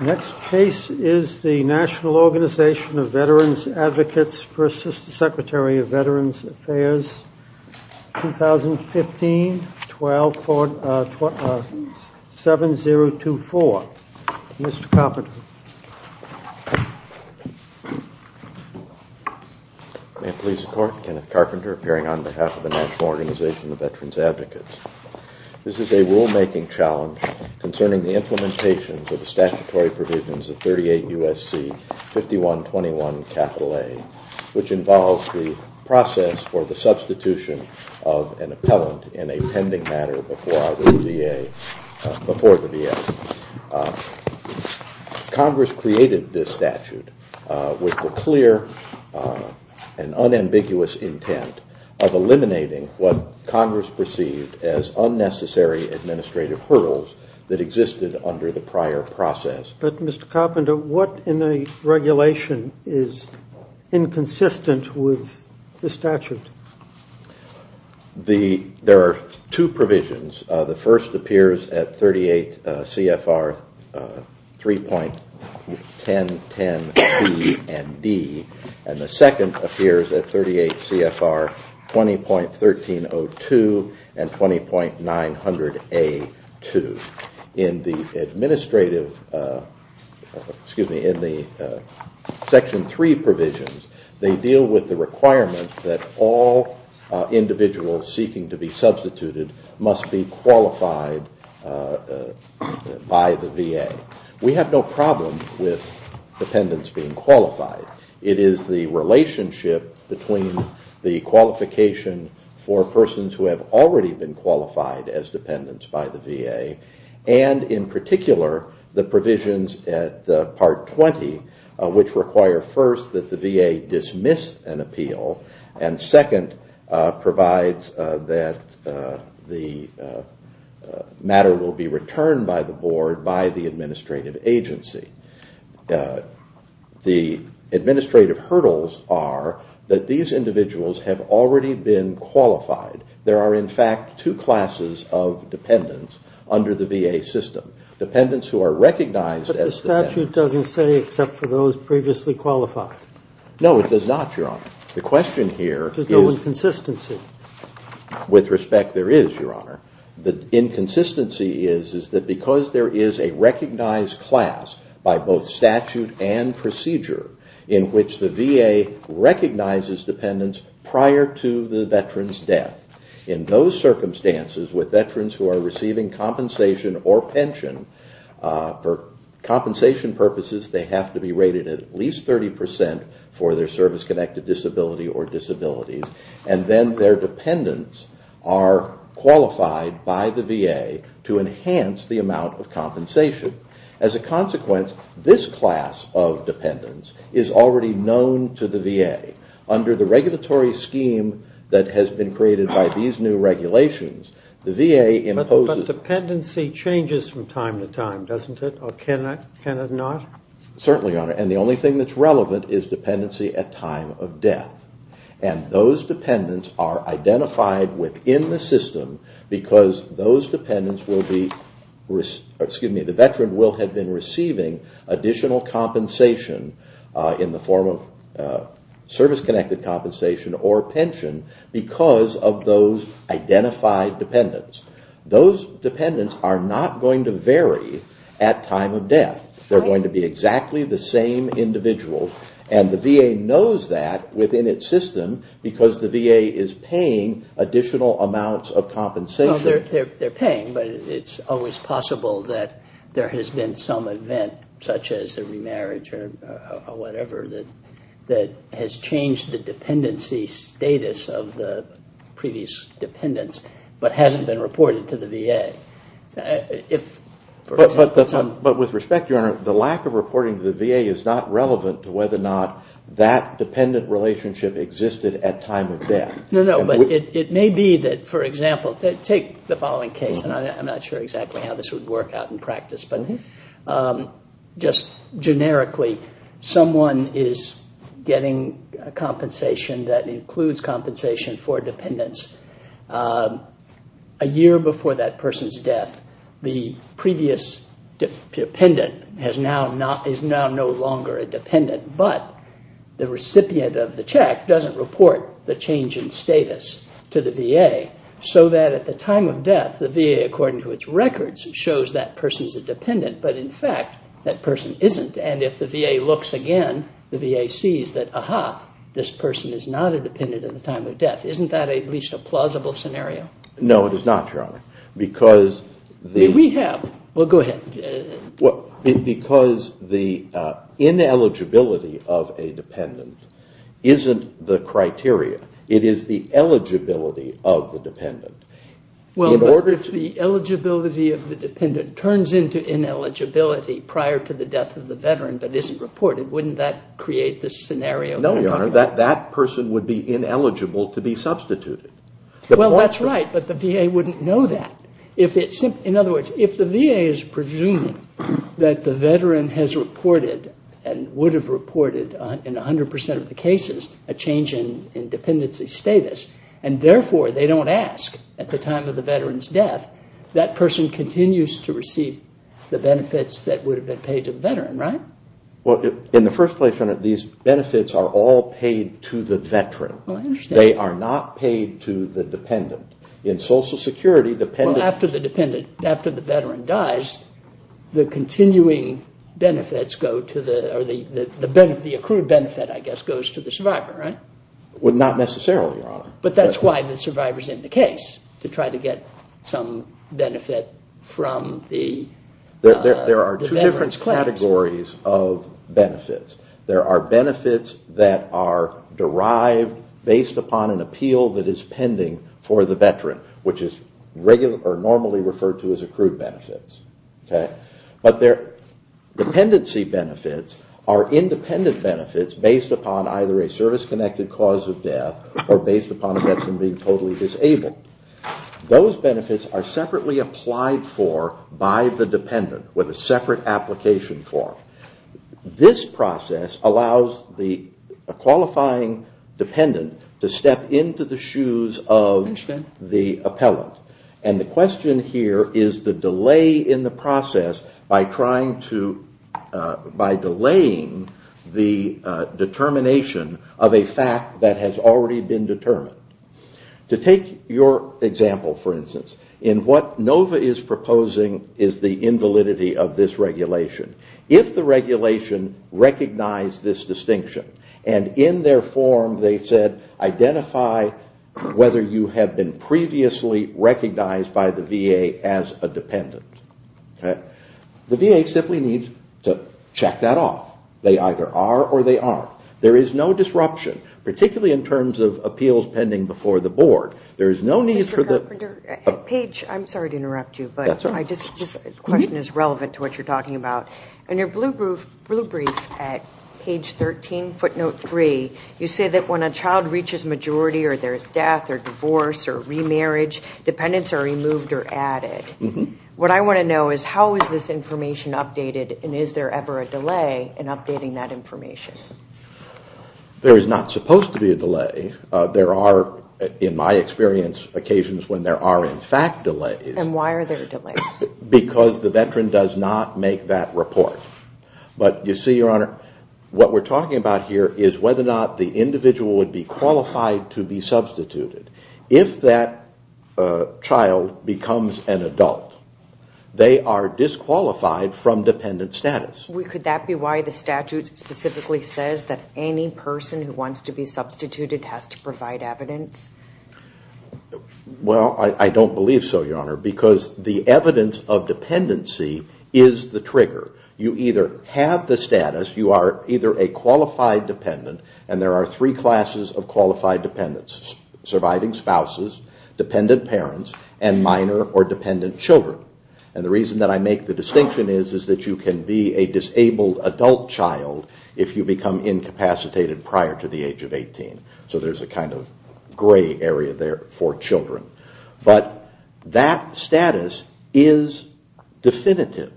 Next case is the National Organization of Veterans Advocates for Assistant Secretary of Veterans Affairs 2015-7-024. Mr. Carpenter. May it please the Court, Kenneth Carpenter appearing on behalf of the National Organization of Veterans Advocates. This is a rulemaking challenge concerning the implementation of the statutory provisions of 38 U.S.C. 5121 A, which involves the process for the substitution of an appellant in a pending matter before the VA. Congress created this statute with the clear and unambiguous intent of eliminating what Congress perceived as unnecessary administrative hurdles that existed under the prior process. But Mr. Carpenter, what in the regulation is inconsistent with the statute? There are two provisions. The first appears at 38 CFR 3.1010 C and D, and the second appears at 38 CFR 20.1302 and 20.900 A 2. In the Section 3 provisions, they deal with the requirement that all individuals seeking to be substituted must be qualified by the VA. We have no problem with dependents being qualified. It is the relationship between the qualification for persons who have already been qualified as dependents by the VA, and in particular, the provisions at Part 20, which require first that the VA dismiss an appeal, and second provides that the matter will be that these individuals have already been qualified. There are, in fact, two classes of dependents under the VA system. Dependents who are recognized as dependents. But the statute doesn't say except for those previously qualified. No, it does not, Your Honor. The question here is. There's no inconsistency. With respect, there is, Your Honor. The inconsistency is that because there is a recognized class by both statute and procedure in which the VA recognizes dependents prior to the veteran's death, in those circumstances with veterans who are receiving compensation or pension, for compensation purposes, they have to be rated at least 30% for their service-connected disability or disabilities, and then their dependents are qualified by the VA to enhance the amount of compensation. As a consequence, this class of dependents is already known to the VA. Under the regulatory scheme that has been created by these new regulations, the VA imposes. But dependency changes from time to time, doesn't it? Or can it not? Certainly, Your Honor. And the only thing that's relevant is dependency at time of death. And those dependents are identified within the system because those dependents will be, excuse me, the veteran will have been receiving additional compensation in the form of service-connected compensation or pension because of those identified dependents. Those dependents are not going to vary at time of death. They're going to be exactly the same individuals. And the VA knows that within its system because the VA is paying additional amounts of compensation. They're paying, but it's always possible that there has been some event, such as a remarriage or whatever, that has changed the dependency status of the previous dependents but hasn't been reported to the VA. But with respect, Your Honor, the lack of reporting to the VA is not relevant to whether or not that dependent relationship existed at time of death. No, no. But it may be that, for example, take the following case. And I'm not sure exactly how this would work out in practice. But just generically, someone is getting compensation that includes compensation for dependents. A year before that person's death, the previous dependent is now no longer a dependent. But the recipient of the check doesn't report the change in status to the VA so that at the time of death, the VA, according to its records, shows that person's a dependent. But in fact, that person isn't. And if the VA looks again, the VA sees that, aha, this person is not a dependent at the time of death. Isn't that at least a plausible scenario? No, it is not, Your Honor. We have. Well, go ahead. Because the ineligibility of a dependent isn't the criteria. It is the eligibility of the dependent. Well, but if the eligibility of the dependent turns into ineligibility prior to the death of the veteran but isn't reported, wouldn't that create this scenario? No, Your Honor. That person would be ineligible to be substituted. Well, that's right, but the VA wouldn't know that. In other words, if the VA is presuming that the veteran has reported and would have reported in 100% of the cases a change in dependency status and therefore they don't ask at the time of the veteran's death, that person continues to receive the benefits that would have been paid to the veteran, right? Well, in the first place, Your Honor, these benefits are all paid to the veteran. They are not paid to the dependent. In Social Security, dependent... Well, after the veteran dies, the continuing benefits go to the... the accrued benefit, I guess, goes to the survivor, right? Well, not necessarily, Your Honor. But that's why the survivor's in the case, to try to get some benefit from the veteran's claims. There are two different categories of benefits. There are benefits that are derived based upon an appeal that is pending for the veteran, which is normally referred to as accrued benefits. But dependency benefits are independent benefits based upon either a service-connected cause of death or based upon a veteran being totally disabled. Those benefits are separately applied for by the dependent with a separate application form. This process allows the qualifying dependent to step into the shoes of the appellant. And the question here is the delay in the process by trying to... by delaying the determination of a fact that has already been determined. To take your example, for instance, in what NOVA is proposing is the invalidity of this regulation. If the regulation recognized this distinction, and in their form they said, identify whether you have been previously recognized by the VA as a dependent, the VA simply needs to check that off. They either are or they aren't. There is no disruption, particularly in terms of appeals pending before the board. There is no need for the... Page, I'm sorry to interrupt you, but this question is relevant to what you're talking about. In your blue brief at page 13, footnote 3, you say that when a child reaches majority or there's death or divorce or remarriage, dependents are removed or added. What I want to know is how is this information updated and is there ever a delay in updating that information? There is not supposed to be a delay. There are, in my experience, occasions when there are in fact delays. And why are there delays? Because the veteran does not make that report. But you see, Your Honor, what we're talking about here is whether or not the individual would be qualified to be substituted. If that child becomes an adult, they are disqualified from dependent status. Could that be why the statute specifically says that any person who wants to be substituted has to provide evidence? Well, I don't believe so, Your Honor, because the evidence of dependency is the trigger. You either have the status, you are either a qualified dependent, and there are three classes of qualified dependents. Surviving spouses, dependent parents, and minor or dependent children. And the reason that I make the distinction is that you can be a disabled adult child if you become incapacitated prior to the age of 18. So there's a kind of gray area there for children. But that status is definitive.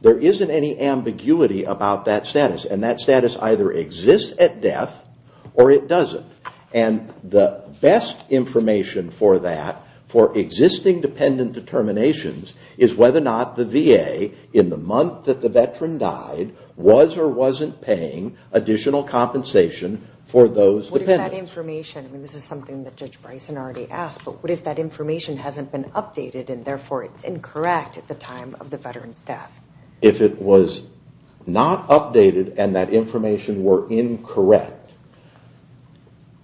There isn't any ambiguity about that status. And that status either exists at death or it doesn't. And the best information for that, for existing dependent determinations, is whether or not the VA, in the month that the veteran died, was or wasn't paying additional compensation for those dependents. What if that information, and this is something that Judge Bryson already asked, but what if that information hasn't been updated and therefore it's incorrect at the time of the veteran's death? If it was not updated and that information were incorrect,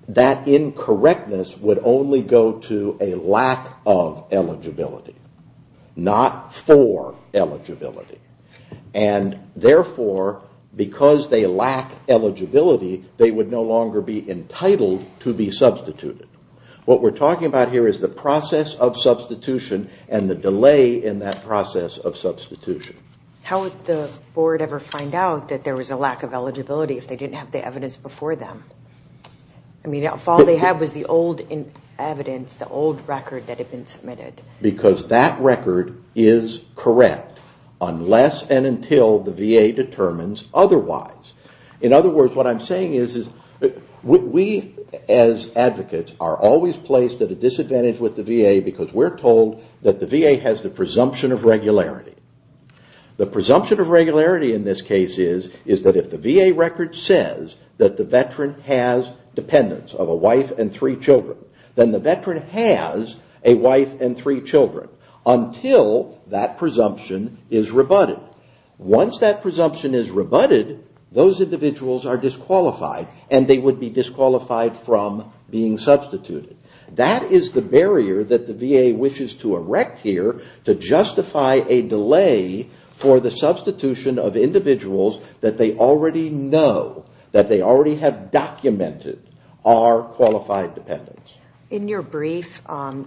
that incorrectness would only go to a lack of eligibility. Not for eligibility. And therefore, because they lack eligibility, they would no longer be entitled to be substituted. What we're talking about here is the process of substitution and the delay in that process of substitution. How would the board ever find out that there was a lack of eligibility if they didn't have the evidence before them? If all they had was the old evidence, the old record that had been submitted. Because that record is correct unless and until the VA determines otherwise. In other words, what I'm saying is we as advocates are always placed at a disadvantage with the VA because we're told that the VA has the presumption of regularity. The presumption of regularity in this case is that if the VA record says that the veteran has dependents of a wife and three children, then the veteran has a wife and three children until that presumption is rebutted. Once that presumption is rebutted, those individuals are disqualified and they would be disqualified from being substituted. That is the barrier that the VA wishes to erect here to justify a delay for the substitution of individuals that they already know, that they already have documented are qualified dependents. In your brief,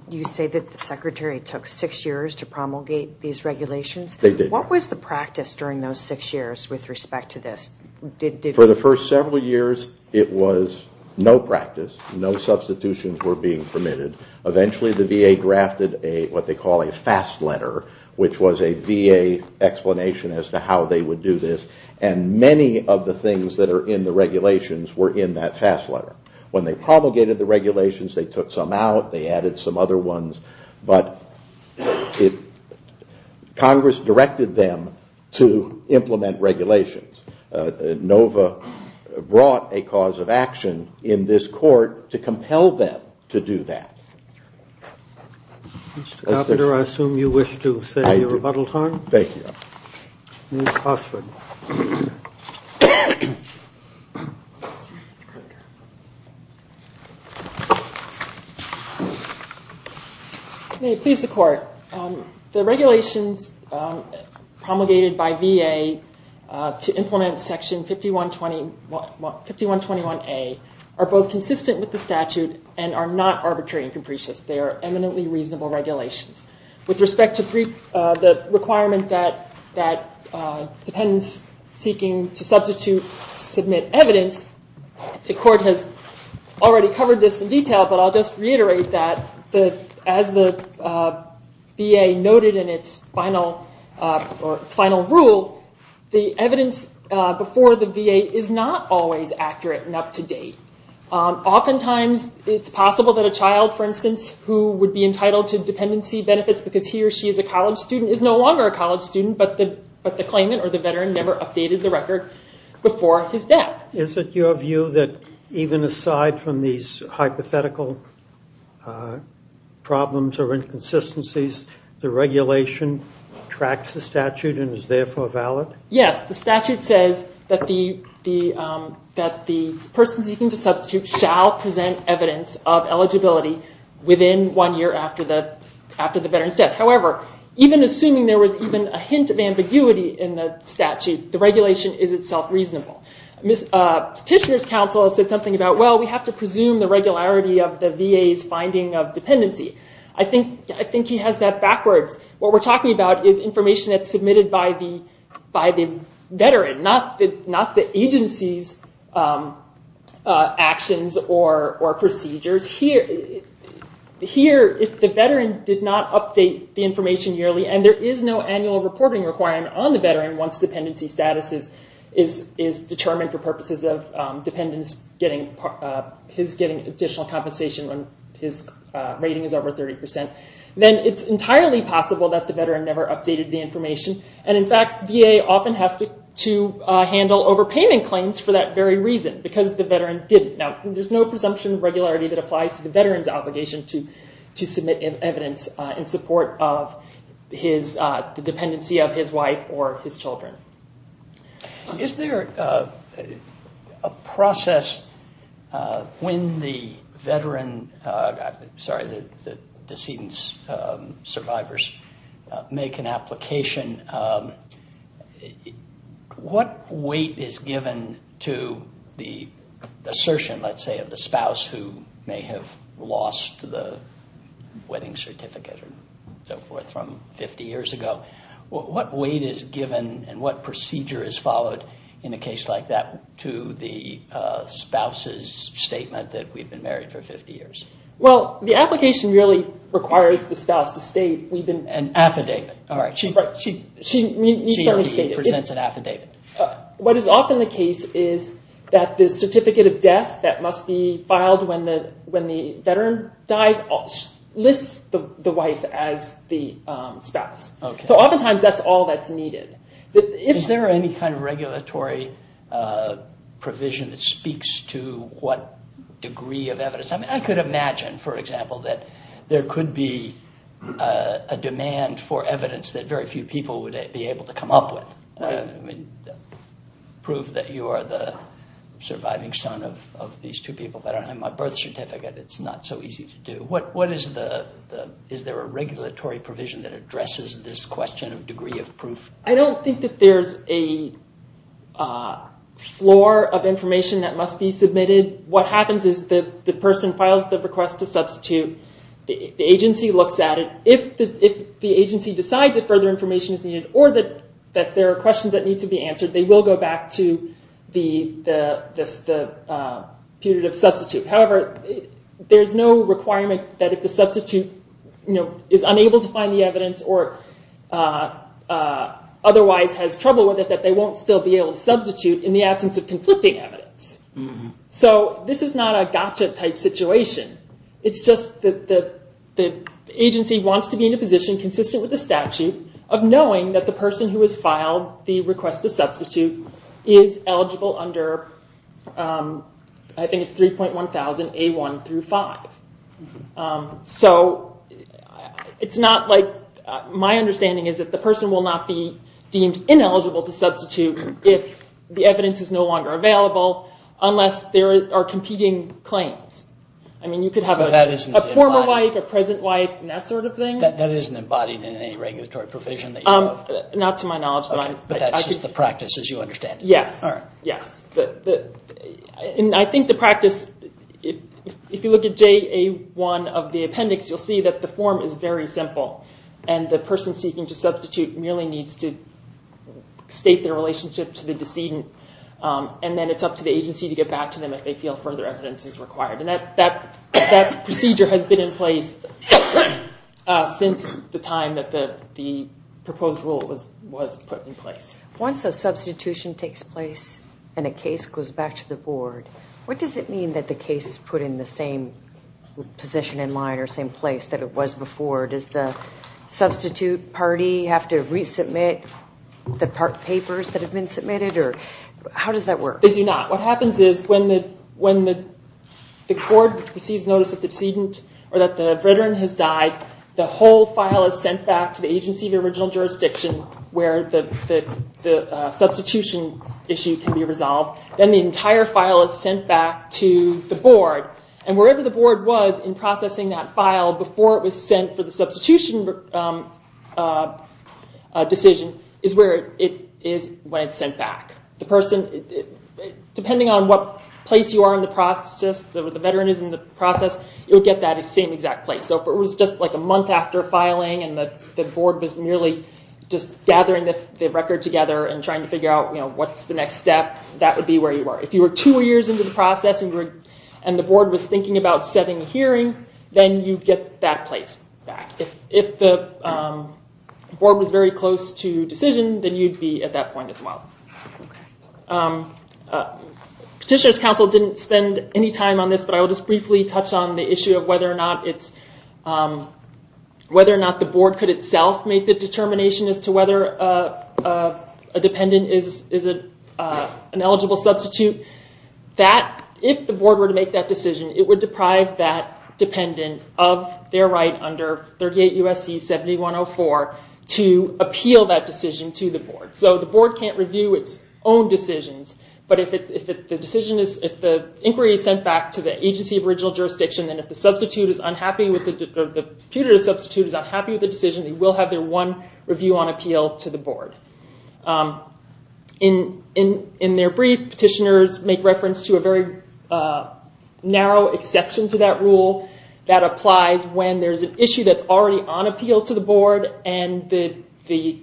you say that the Secretary took six years to promulgate these regulations. They did. What was the practice during those six years with respect to this? For the first several years, it was no practice. No substitutions were being permitted. Eventually, the VA drafted what they call a fast letter, which was a VA explanation as to how they would do this. Many of the things that are in the regulations were in that fast letter. When they promulgated the regulations, they took some out. They added some other ones. Congress directed them to implement regulations. NOVA brought a cause of action in this court to compel them to do that. Mr. Coppenter, I assume you wish to say your rebuttal time? Thank you. Ms. Hossford. May it please the Court. The regulations promulgated by VA to implement Section 5121A are both consistent with the statute and are not arbitrary and capricious. They are eminently reasonable regulations. With respect to the requirement that dependents seeking to substitute submit evidence, the Court has already covered this in detail, but I'll just reiterate that as the VA noted in its final rule, the evidence before the VA is not always accurate and up to date. Oftentimes, it's possible that a child, for instance, who would be entitled to dependency benefits because he or she is a college student is no longer a college student, but the claimant or the veteran never updated the record before his death. Is it your view that even aside from these hypothetical problems or inconsistencies, the regulation tracks the statute and is therefore valid? Yes, the statute says that the person seeking to substitute shall present evidence of eligibility within one year after the veteran's death. However, even assuming there was even a hint of ambiguity in the statute, the regulation is itself reasonable. Petitioner's counsel said something about, well, we have to presume the regularity of the VA's finding of dependency. I think he has that backwards. What we're talking about is information that's submitted by the veteran, not the agency's actions or procedures. Here, if the veteran did not update the information yearly and there is no annual reporting requirement on the veteran once dependency status is determined for purposes of his getting additional compensation when his rating is over 30%, then it's entirely possible that the veteran never updated the information. In fact, VA often has to handle overpayment claims for that very reason because the veteran didn't. There's no presumption of regularity that applies to the veteran's obligation to submit evidence in support of the dependency of his wife or his children. Is there a process when the decedent survivors make an application? What weight is given to the assertion, let's say, of the spouse who may have lost the wedding certificate from 50 years ago? What weight is given and what procedure is followed in a case like that to the spouse's statement that we've been married for 50 years? The application really requires the spouse to state an affidavit. She presents an affidavit. The death that must be filed when the veteran dies lists the wife as the spouse. Oftentimes, that's all that's needed. Is there any kind of regulatory provision that speaks to what degree of evidence? I could imagine, for example, that there could be a demand for evidence that very few people would be able to come up with. Prove that you are the surviving son of these two people that don't have my birth certificate. It's not so easy to do. Is there a regulatory provision that addresses this question of degree of proof? I don't think that there's a floor of information that must be submitted. What happens is the person files the request to substitute. The agency looks at it. If the agency decides that further information is needed or that there are questions that need to be answered, they will go back to the putative substitute. However, there's no requirement that if the substitute is unable to find the evidence or otherwise has trouble with it that they won't still be able to substitute in the absence of conflicting evidence. This is not a gotcha type situation. It's just that the agency wants to be in a position consistent with the statute of knowing that the person who has filed the request to substitute is eligible under, I think it's 3.1000A1-5. My understanding is that the person will not be deemed ineligible to substitute if the evidence is no longer available unless there are competing claims. You could have a former wife, a present wife, and that sort of thing. That isn't embodied in any regulatory provision that you have? Not to my knowledge. But that's just the practice as you understand it. Yes. I think the practice, if you look at JA1 of the appendix, you'll see that the form is very simple. The person seeking to substitute merely needs to state their relationship to the decedent, and then it's up to the agency to get back to them if they feel further evidence is required. That procedure has been in place since the time that the proposed rule was put in place. Once a substitution takes place and a case goes back to the board, what does it mean that the case is put in the same position in mind or same place that it was before? Does the substitute party have to resubmit the papers that have been submitted? How does that work? They do not. What happens is when the court receives notice that the veteran has died, the whole file is sent back to the agency of the original jurisdiction where the substitution issue can be resolved. Then the entire file is sent back to the board, and wherever the board was in processing that file before it was sent for the substitution decision is where it is when it's sent back. Depending on what place you are in the process, where the veteran is in the process, you'll get that same exact place. If it was just a month after filing and the board was merely just gathering the record together and trying to figure out what's the next step, that would be where you were. If you were two years into the process and the board was thinking about setting a hearing, then you'd get that place back. If the board was very close to decision, then you'd be at that point as well. Petitioner's counsel didn't spend any time on this, but I will just briefly touch on the issue of whether or not the board could itself make the determination as to whether a dependent is an eligible substitute. If the board were to make that decision, it would deprive that dependent of their right under 38 U.S.C. 7104 to appeal that decision to the board. The board can't review its own decisions, but if the inquiry is sent back to the agency of original jurisdiction, then if the putative substitute is unhappy with the decision, they will have their one review on appeal to the board. In their brief, petitioners make reference to a very narrow exception to that rule that applies when there's an issue that's already on appeal to the board and the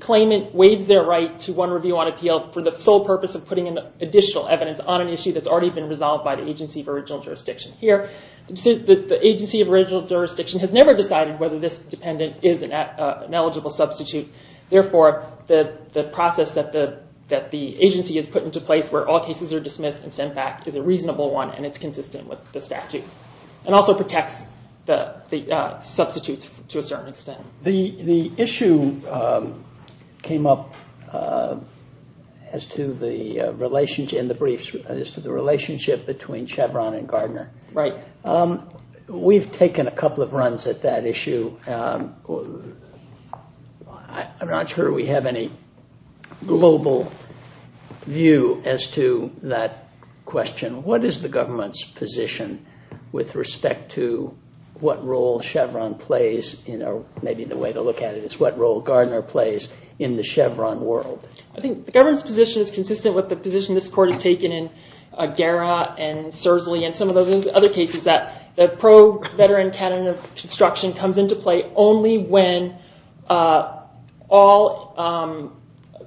claimant waives their right to one review on appeal for the sole purpose of putting additional evidence on an issue that's already been resolved by the agency of original jurisdiction. Here, the agency of original jurisdiction has never decided whether this dependent is an eligible substitute. Therefore, the process that the agency has put into place where all cases are dismissed and sent back is a reasonable one and it's consistent with the statute and also protects the substitutes to a certain extent. The issue came up as to the relationship between Chevron and Gardner. We've taken a couple of runs at that issue. I'm not sure we have any global view as to that question. What is the government's position with respect to what role Chevron plays or maybe the way to look at it is what role Gardner plays in the Chevron world? I think the government's position is consistent with the position this court has taken in Guerra and Sursley and some of those other cases that the pro-veteran canon of construction comes into play only when all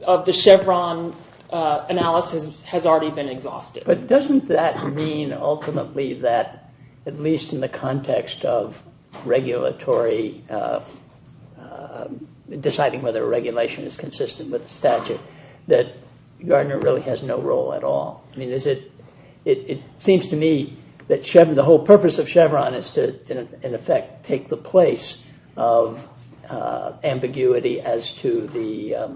of the Chevron analysis has already been exhausted. But doesn't that mean ultimately that at least in the context of regulatory, deciding whether a regulation is consistent with the statute, that Gardner really has no role at all? It seems to me that the whole purpose of Chevron is to, in effect, take the place of ambiguity as to the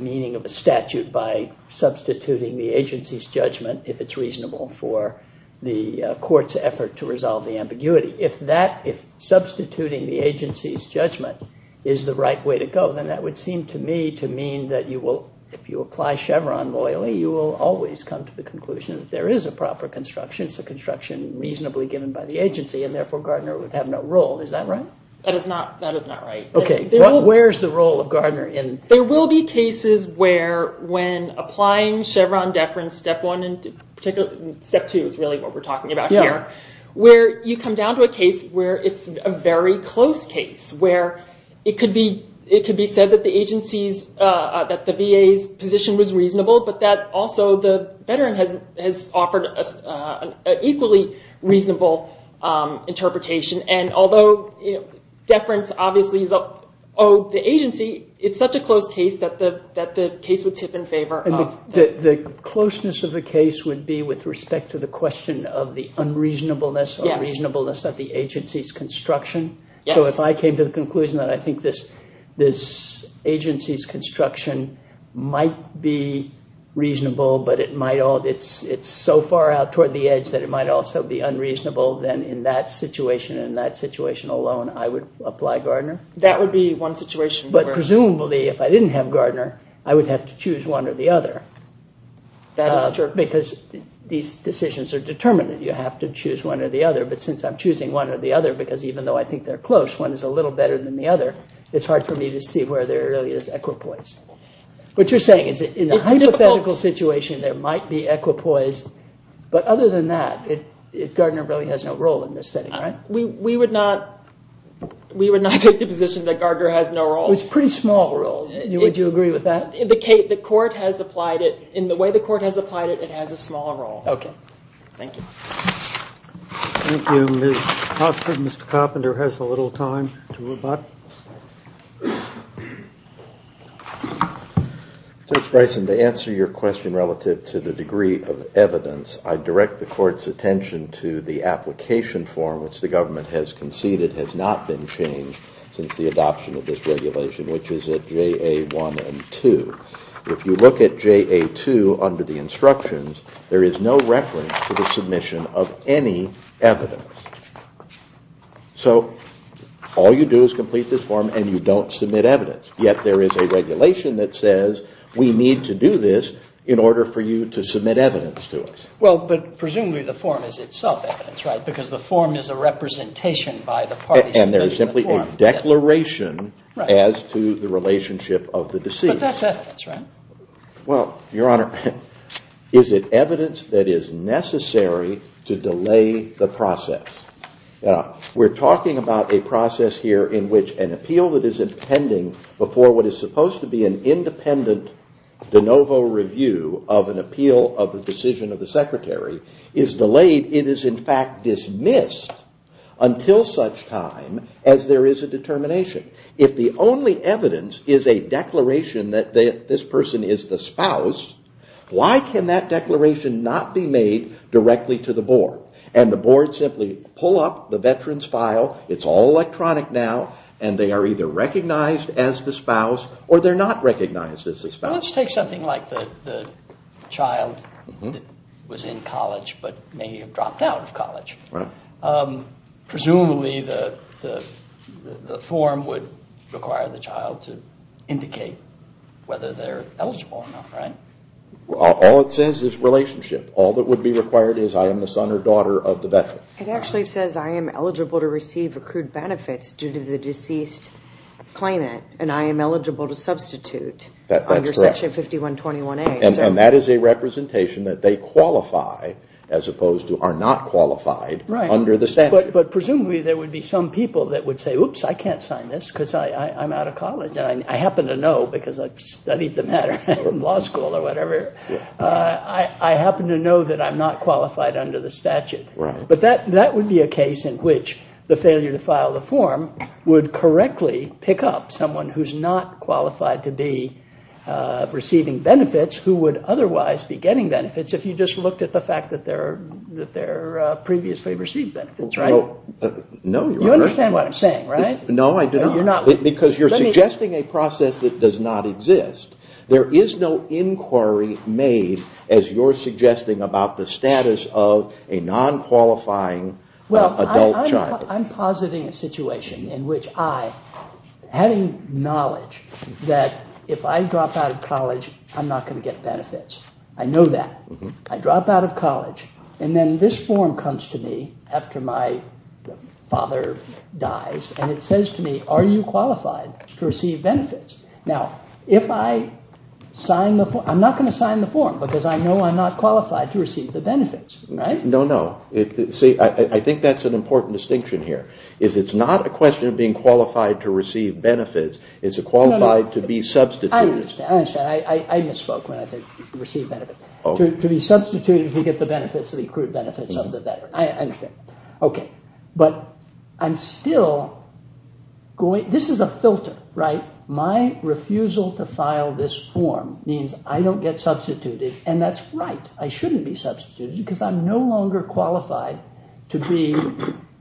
meaning of a statute by substituting the agency's judgment if it's reasonable for the court's effort to resolve the ambiguity. If substituting the agency's judgment is the right way to go, then that would seem to me to mean that if you apply Chevron loyally, you will always come to the conclusion that there is a proper construction. It's a construction reasonably given by the agency, and therefore Gardner would have no role. Is that right? That is not right. Okay. Where is the role of Gardner? There will be cases where when applying Chevron deference, step one and step two is really what we're talking about here, where you come down to a case where it's a very close case, where it could be said that the VA's position was reasonable, but that also the veteran has offered an equally reasonable interpretation. Although deference obviously is owed the agency, it's such a close case that the case would tip in favor. The closeness of the case would be with respect to the question of the unreasonableness or reasonableness of the agency's construction. If I came to the conclusion that I think this agency's construction might be reasonable but it's so far out toward the edge that it might also be unreasonable, then in that situation and that situation alone, I would apply Gardner. That would be one situation. But presumably if I didn't have Gardner, I would have to choose one or the other. That is true. Because these decisions are determined. You have to choose one or the other. But since I'm choosing one or the other, because even though I think they're close, one is a little better than the other, it's hard for me to see where there really is equipoise. What you're saying is in a hypothetical situation there might be equipoise, but other than that, Gardner really has no role in this setting, right? We would not take the position that Gardner has no role. It's a pretty small role. Would you agree with that? The court has applied it. In the way the court has applied it, it has a small role. Okay. Thank you. Thank you. Mr. Coppinder has a little time to rebut. Judge Bryson, to answer your question relative to the degree of evidence, I direct the court's attention to the application form which the government has conceded has not been changed since the adoption of this regulation, which is at JA1 and 2. If you look at JA2 under the instructions, there is no reference to the submission of any evidence. So all you do is complete this form and you don't submit evidence. Yet there is a regulation that says we need to do this in order for you to submit evidence to us. Well, but presumably the form is itself evidence, right? Because the form is a representation by the parties. And there is simply a declaration as to the relationship of the deceased. But that's evidence, right? Well, Your Honor, is it evidence that is necessary to delay the process? We're talking about a process here in which an appeal that is pending before what is supposed to be an independent de novo review of an appeal of the decision of the secretary is delayed. It is in fact dismissed until such time as there is a determination. If the only evidence is a declaration that this person is the spouse, why can that declaration not be made directly to the board? And the board simply pull up the veteran's file, it's all electronic now, and they are either recognized as the spouse or they're not recognized as the spouse. Let's take something like the child that was in college but may have dropped out of college. Presumably the form would require the child to indicate whether they're eligible or not, right? All it says is relationship. All that would be required is I am the son or daughter of the veteran. It actually says I am eligible to receive accrued benefits due to the deceased claimant and I am eligible to substitute under Section 5121A. And that is a representation that they qualify as opposed to are not qualified under the statute. But presumably there would be some people that would say, oops, I can't sign this because I'm out of college. I happen to know because I've studied the matter in law school or whatever. I happen to know that I'm not qualified under the statute. But that would be a case in which the failure to file the form would correctly pick up someone who's not qualified to be receiving benefits who would otherwise be getting benefits if you just looked at the fact that they previously received benefits, right? No, Your Honor. You understand what I'm saying, right? No, I do not. Because you're suggesting a process that does not exist. There is no inquiry made as you're suggesting about the status of a non-qualifying adult child. Well, I'm positing a situation in which I, having knowledge that if I drop out of college, I'm not going to get benefits. I know that. I drop out of college and then this form comes to me after my father dies and it says to me, are you qualified to receive benefits? Now, if I sign the form, I'm not going to sign the form because I know I'm not qualified to receive the benefits, right? No, no. See, I think that's an important distinction here. It's not a question of being qualified to receive benefits. It's qualified to be substituted. I understand. I misspoke when I said receive benefits. To be substituted to get the benefits, the accrued benefits of the veteran. I understand. Okay. But I'm still going, this is a filter, right? My refusal to file this form means I don't get substituted and that's right. I shouldn't be substituted because I'm no longer qualified to be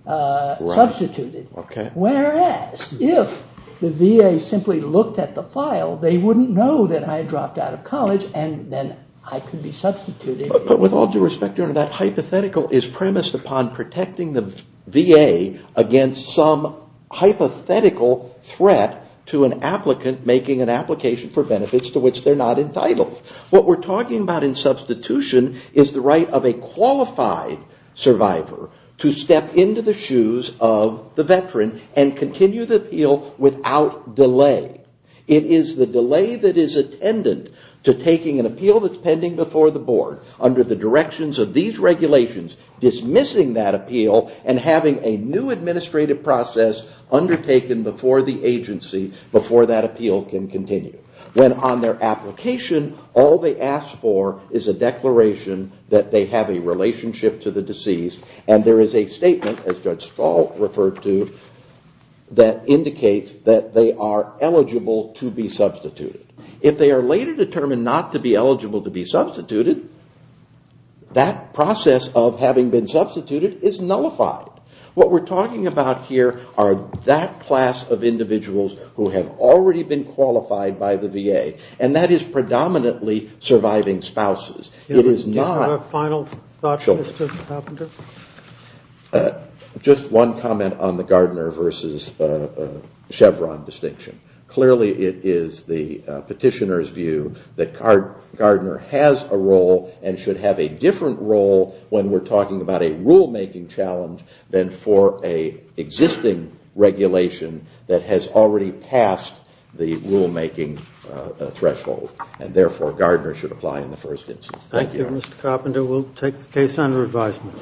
substituted. Okay. Whereas, if the VA simply looked at the file, they wouldn't know that I dropped out of college and then I could be substituted. But with all due respect, Your Honor, that hypothetical is premised upon protecting the VA against some hypothetical threat to an applicant making an application for benefits to which they're not entitled. What we're talking about in substitution is the right of a qualified survivor to step into the shoes of the veteran and continue the appeal without delay. It is the delay that is attendant to taking an appeal that's pending before the board under the directions of these regulations, dismissing that appeal and having a new administrative process undertaken before the agency, before that appeal can continue. When on their application, all they ask for is a declaration that they have a relationship to the deceased and there is a statement, as Judge Stahl referred to, that indicates that they are eligible to be substituted. If they are later determined not to be eligible to be substituted, that process of having been substituted is nullified. What we're talking about here are that class of individuals who have already been qualified by the VA and that is predominantly surviving spouses. It is not... Final thoughts, Mr. Carpenter? Just one comment on the Gardner versus Chevron distinction. Clearly it is the petitioner's view that Gardner has a role and should have a different role when we're talking about a rulemaking challenge than for an existing regulation that has already passed the rulemaking threshold and therefore Gardner should apply in the first instance. Thank you. Thank you, Mr. Carpenter. We'll take the case under advisement.